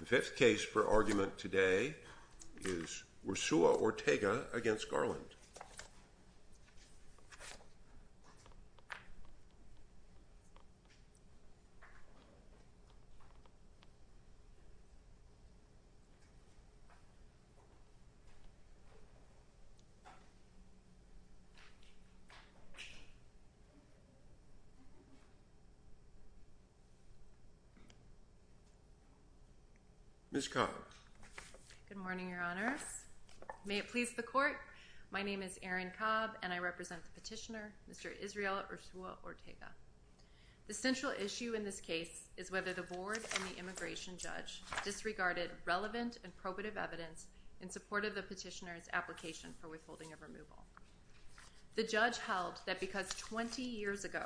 The fifth case for argument today is Urzua Ortega v. Garland. Ms. Cobb. Good morning, Your Honors. May it please the Court, my name is Erin Cobb and I represent the petitioner, Mr. Israel Urzua Ortega. The central issue in this case is whether the board and the immigration judge disregarded relevant and probative evidence in support of the petitioner's application for withholding of removal. The judge held that because 20 years ago,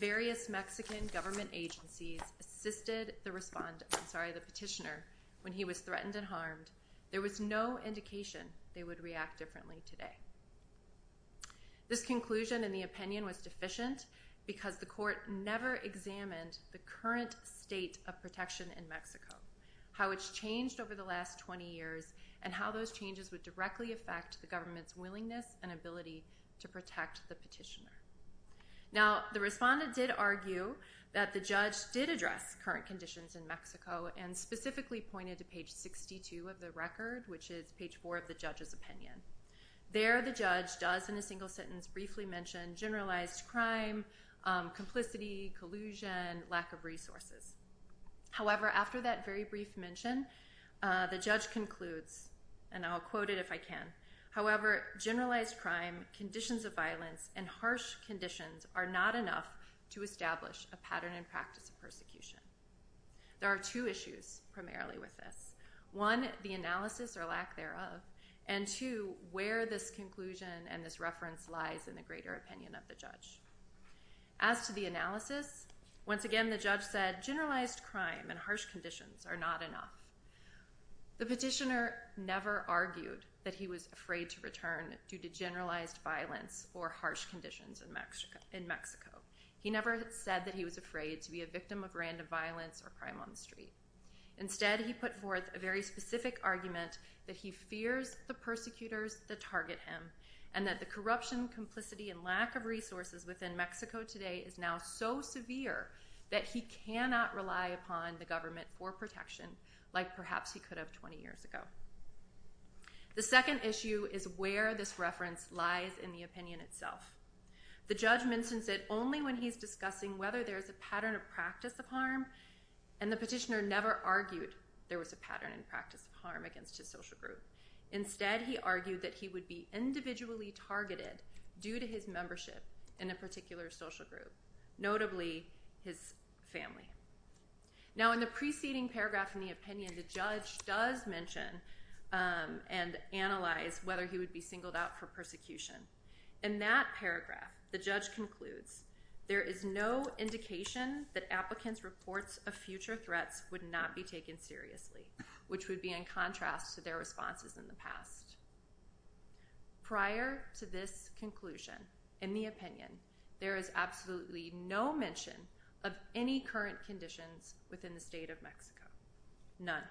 various Mexican government agencies assisted the petitioner when he was threatened and harmed, there was no indication they would react differently today. This conclusion and the opinion was deficient because the Court never examined the current state of protection in Mexico, how it's changed over the last 20 years, and how those changes would directly affect the government's willingness and ability to protect the petitioner. Now, the respondent did argue that the judge did address current conditions in Mexico and specifically pointed to page 62 of the record, which is page 4 of the judge's opinion. There, the judge does in a single sentence briefly mention generalized crime, complicity, collusion, lack of resources. However, after that very brief mention, the judge concludes, and I'll quote it if I can, however, generalized crime, conditions of violence, and harsh conditions are not enough to establish a pattern and practice of persecution. There are two issues primarily with this. One, the analysis or lack thereof, and two, where this conclusion and this reference lies in the greater opinion of the judge. As to the analysis, once again, the judge said generalized crime and harsh conditions are not enough. The petitioner never argued that he was afraid to return due to generalized violence or harsh conditions in Mexico. He never said that he was afraid to be a victim of random violence or crime on the street. is now so severe that he cannot rely upon the government for protection like perhaps he could have 20 years ago. The second issue is where this reference lies in the opinion itself. The judge mentions it only when he's discussing whether there's a pattern of practice of harm, and the petitioner never argued there was a pattern and practice of harm against his social group. Instead, he argued that he would be individually targeted due to his membership in a particular social group, notably his family. Now, in the preceding paragraph in the opinion, the judge does mention and analyze whether he would be singled out for persecution. In that paragraph, the judge concludes, there is no indication that applicants' reports of future threats would not be taken seriously, which would be in contrast to their responses in the past. Prior to this conclusion, in the opinion, there is absolutely no mention of any current conditions within the state of Mexico. None.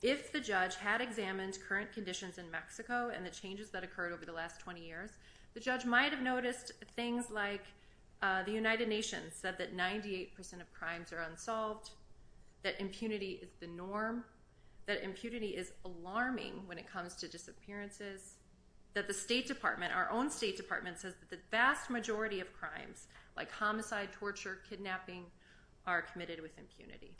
If the judge had examined current conditions in Mexico and the changes that occurred over the last 20 years, the judge might have noticed things like the United Nations said that 98% of crimes are unsolved, that impunity is the norm, that impunity is alarming when it comes to disappearances, that the State Department, our own State Department, says that the vast majority of crimes, like homicide, torture, kidnapping, are committed with impunity.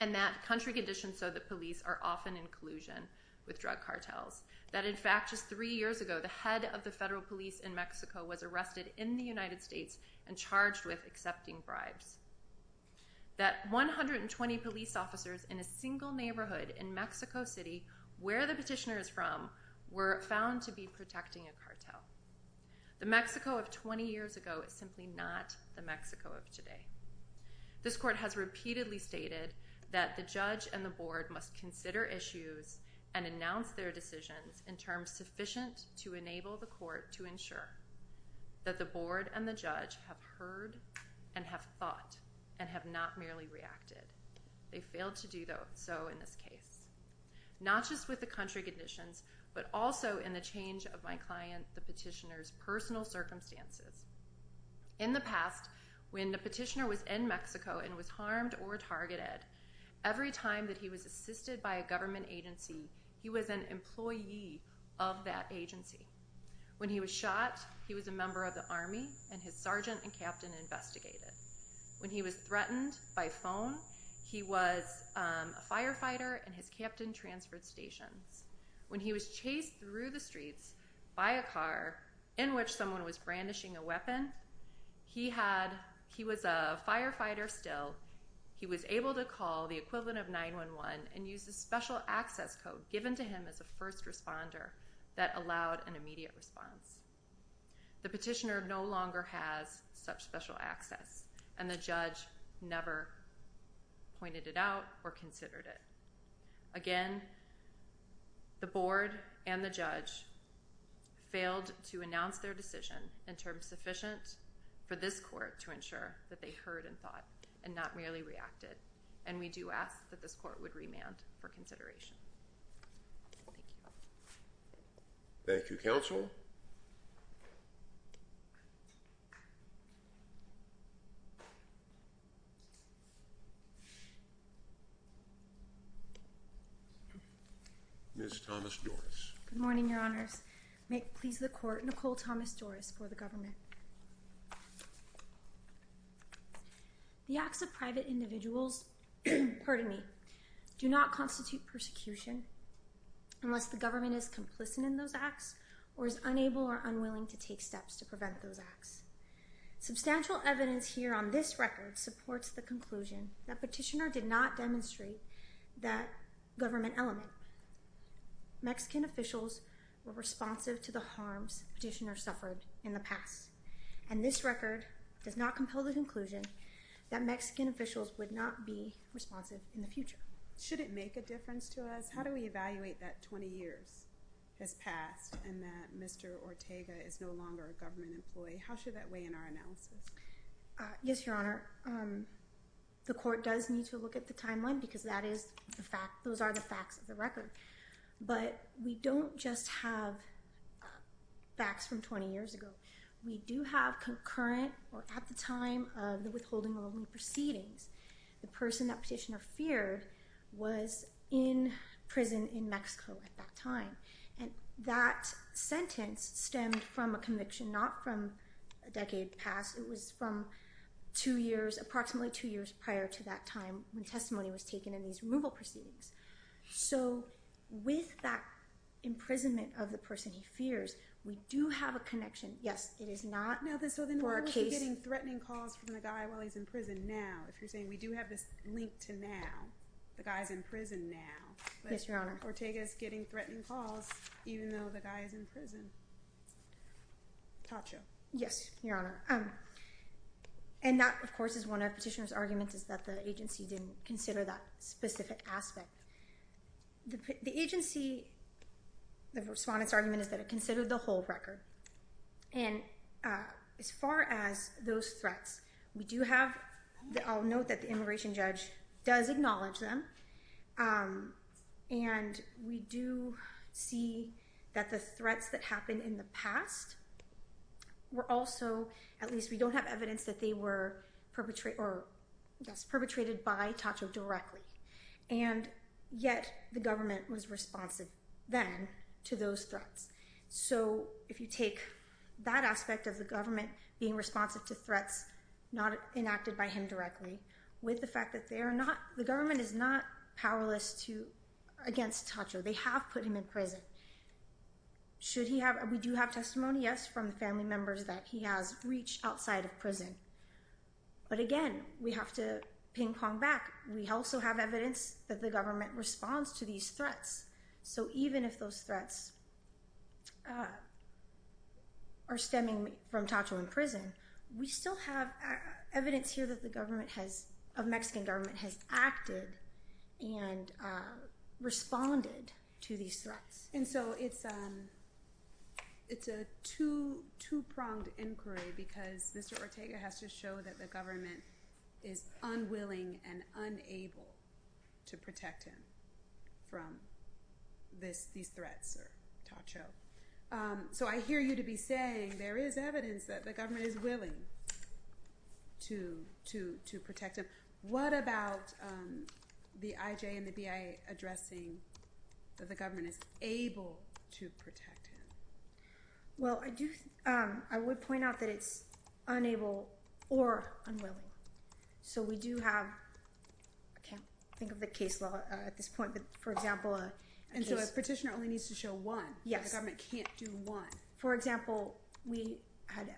And that country conditions show that police are often in collusion with drug cartels. That in fact, just three years ago, the head of the federal police in Mexico was arrested in the United States and charged with accepting bribes. That 120 police officers in a single neighborhood in Mexico City, where the petitioner is from, were found to be protecting a cartel. The Mexico of 20 years ago is simply not the Mexico of today. This court has repeatedly stated that the judge and the board must consider issues and announce their decisions in terms sufficient to enable the court to ensure that the board and the judge have heard and have thought and have not merely reacted. They failed to do so in this case. Not just with the country conditions, but also in the change of my client, the petitioner's, personal circumstances. In the past, when the petitioner was in Mexico and was harmed or targeted, every time that he was assisted by a government agency, he was an employee of that agency. When he was shot, he was a member of the army and his sergeant and captain investigated. When he was threatened by phone, he was a firefighter and his captain transferred stations. When he was chased through the streets by a car in which someone was brandishing a weapon, he was a firefighter still. He was able to call the equivalent of 911 and use the special access code given to him as a first responder that allowed an immediate response. The petitioner no longer has such special access and the judge never pointed it out or considered it. Again, the board and the judge failed to announce their decision in terms sufficient for this court to ensure that they heard and thought and not merely reacted. And we do ask that this court would remand for consideration. Thank you. Thank you, counsel. Ms. Thomas-Doris. Good morning, your honors. May it please the court, Nicole Thomas-Doris for the government. The acts of private individuals, pardon me, do not constitute persecution unless the government is complicit in those acts or is unable or unwilling to take steps to prevent those acts. Substantial evidence here on this record supports the conclusion that petitioner did not demonstrate that government element. Mexican officials were responsive to the harms petitioner suffered in the past. And this record does not compel the conclusion that Mexican officials would not be responsive in the future. Should it make a difference to us? How do we evaluate that 20 years has passed and that Mr. Ortega is no longer a government employee? How should that weigh in our analysis? Yes, your honor. The court does need to look at the timeline because that is the fact. Those are the facts of the record. But we don't just have facts from 20 years ago. We do have concurrent or at the time of the withholding of proceedings. The person that petitioner feared was in prison in Mexico at that time. And that sentence stemmed from a conviction, not from a decade past. It was from two years, approximately two years prior to that time when testimony was taken in these removal proceedings. So with that imprisonment of the person he fears, we do have a connection. Yes, it is not for a case. So then we're getting threatening calls from the guy while he's in prison now. If you're saying we do have this link to now, the guy's in prison now. Yes, your honor. Ortega is getting threatening calls even though the guy is in prison. Tatcho. Yes, your honor. And that, of course, is one of petitioner's arguments is that the agency didn't consider that specific aspect. The agency, the respondent's argument is that it considered the whole record. And as far as those threats, we do have, I'll note that the immigration judge does acknowledge them. And we do see that the threats that happened in the past were also, at least we don't have evidence that they were perpetrated by Tatcho directly. And yet the government was responsive then to those threats. So if you take that aspect of the government being responsive to threats not enacted by him directly with the fact that they are not, the government is not powerless against Tatcho. They have put him in prison. Should he have, we do have testimony, yes, from the family members that he has reached outside of prison. But again, we have to ping pong back. We also have evidence that the government responds to these threats. So even if those threats are stemming from Tatcho in prison, we still have evidence here that the government has, a Mexican government has acted and responded to these threats. And so it's a two pronged inquiry because Mr. Ortega has to show that the government is unwilling and unable to protect him from these threats or Tatcho. So I hear you to be saying there is evidence that the government is willing to protect him. What about the IJ and the BIA addressing that the government is able to protect him? Well, I do, I would point out that it's unable or unwilling. So we do have, I can't think of the case law at this point, but for example. And so a petitioner only needs to show one. Yes. The government can't do one. For example, we had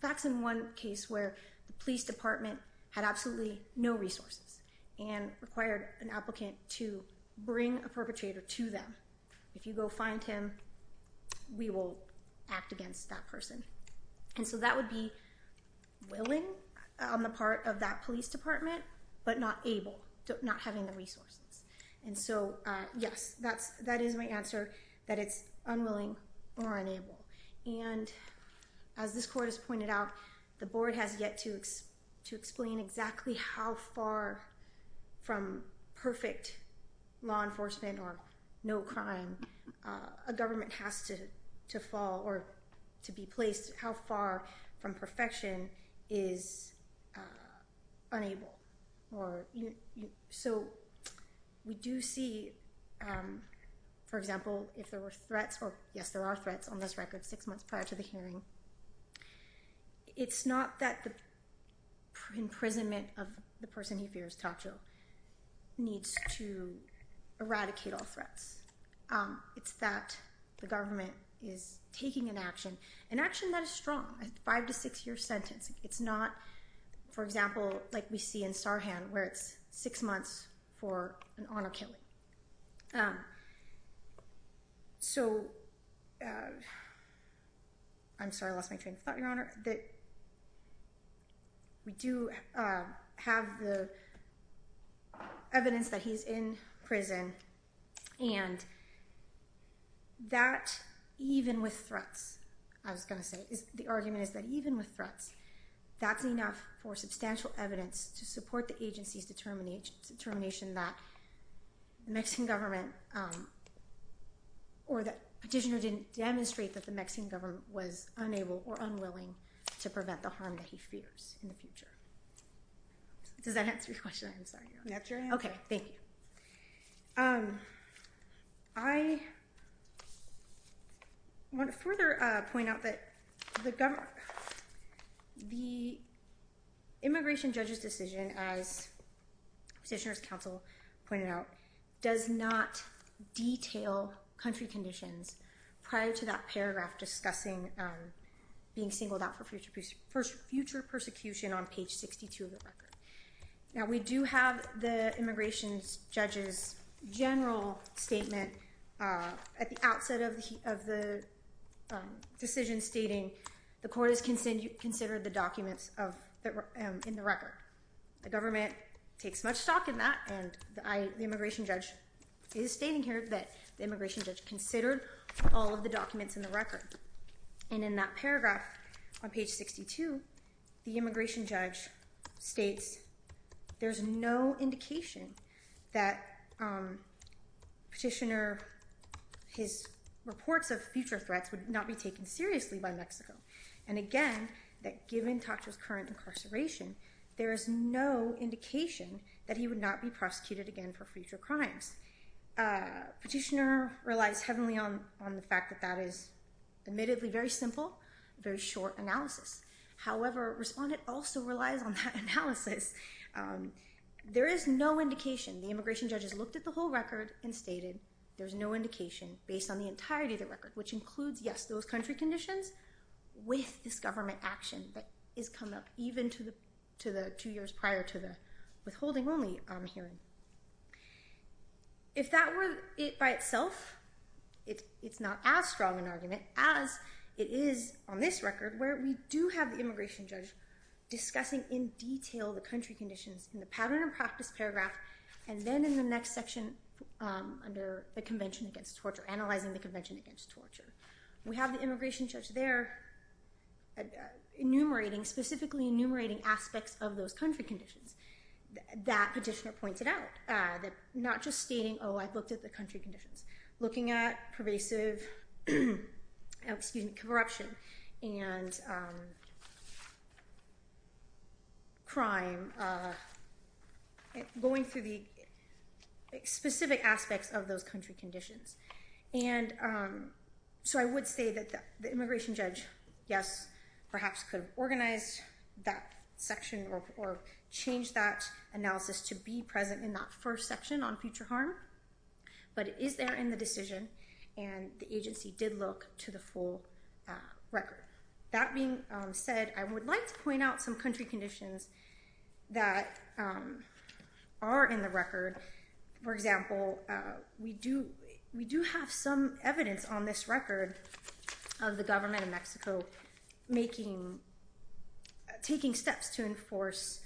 facts in one case where the police department had absolutely no resources and required an applicant to bring a perpetrator to them. If you go find him, we will act against that person. And so that would be willing on the part of that police department, but not able, not having the resources. And so, yes, that is my answer that it's unwilling or unable. And as this court has pointed out, the board has yet to explain exactly how far from perfect law enforcement or no crime a government has to fall or to be placed, how far from perfection is unable. So we do see, for example, if there were threats, or yes, there are threats on this record, six months prior to the hearing. It's not that the imprisonment of the person he fears, Tacho, needs to eradicate all threats. It's that the government is taking an action, an action that is strong, a five to six year sentence. It's not, for example, like we see in Sarhan where it's six months for an honor killing. So, I'm sorry, I lost my train of thought, Your Honor. We do have the evidence that he's in prison, and that even with threats, I was going to say, the argument is that even with threats, that's enough for substantial evidence to support the agency's determination that the Mexican government, or that petitioner didn't demonstrate that the Mexican government was unable or unwilling to prevent the harm that he fears in the future. Does that answer your question? I'm sorry, Your Honor. That's your answer. Okay, thank you. I want to further point out that the immigration judge's decision, as Petitioner's Counsel pointed out, does not detail country conditions prior to that paragraph discussing being singled out for future persecution Now, we do have the immigration judge's general statement at the outset of the decision stating the court has considered the documents in the record. The government takes much stock in that, and the immigration judge is stating here that the immigration judge considered all of the documents in the record. And in that paragraph, on page 62, the immigration judge states there's no indication that Petitioner, his reports of future threats would not be taken seriously by Mexico. And again, that given Tatra's current incarceration, there is no indication that he would not be prosecuted again for future crimes. Petitioner relies heavily on the fact that that is admittedly very simple, very short analysis. However, Respondent also relies on that analysis. There is no indication. The immigration judge has looked at the whole record and stated there's no indication based on the entirety of the record, which includes, yes, those country conditions with this government action that has come up even to the two years prior to the withholding only hearing. If that were it by itself, it's not as strong an argument as it is on this record, where we do have the immigration judge discussing in detail the country conditions in the pattern and practice paragraph and then in the next section under the Convention Against Torture, analyzing the Convention Against Torture. We have the immigration judge there enumerating, specifically enumerating aspects of those country conditions. That petitioner pointed out that not just stating, oh, I've looked at the country conditions, looking at pervasive corruption and crime, going through the specific aspects of those country conditions. So I would say that the immigration judge, yes, perhaps could organize that section or change that analysis to be present in that first section on future harm, but it is there in the decision, and the agency did look to the full record. That being said, I would like to point out some country conditions that are in the record. For example, we do have some evidence on this record of the government of Mexico taking steps to enforce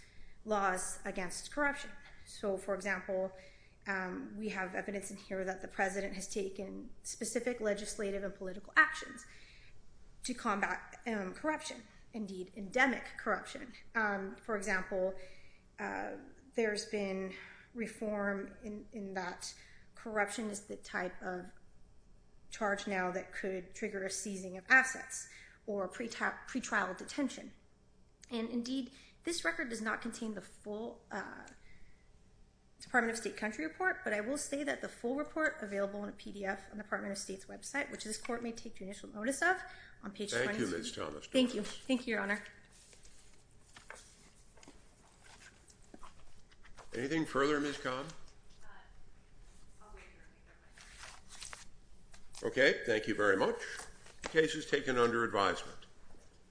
laws against corruption. So, for example, we have evidence in here that the president has taken specific legislative and political actions to combat corruption, indeed endemic corruption. For example, there's been reform in that corruption is the type of charge now that could trigger a seizing of assets or a pretrial detention. And indeed, this record does not contain the full Department of State country report, but I will say that the full report available in a PDF on the Department of State's website, which this court may take judicial notice of, on page 22. Thank you, Ms. Thomas-Thomas. Thank you. Thank you, Your Honor. Anything further, Ms. Cobb? Okay, thank you very much. The case is taken under advisement.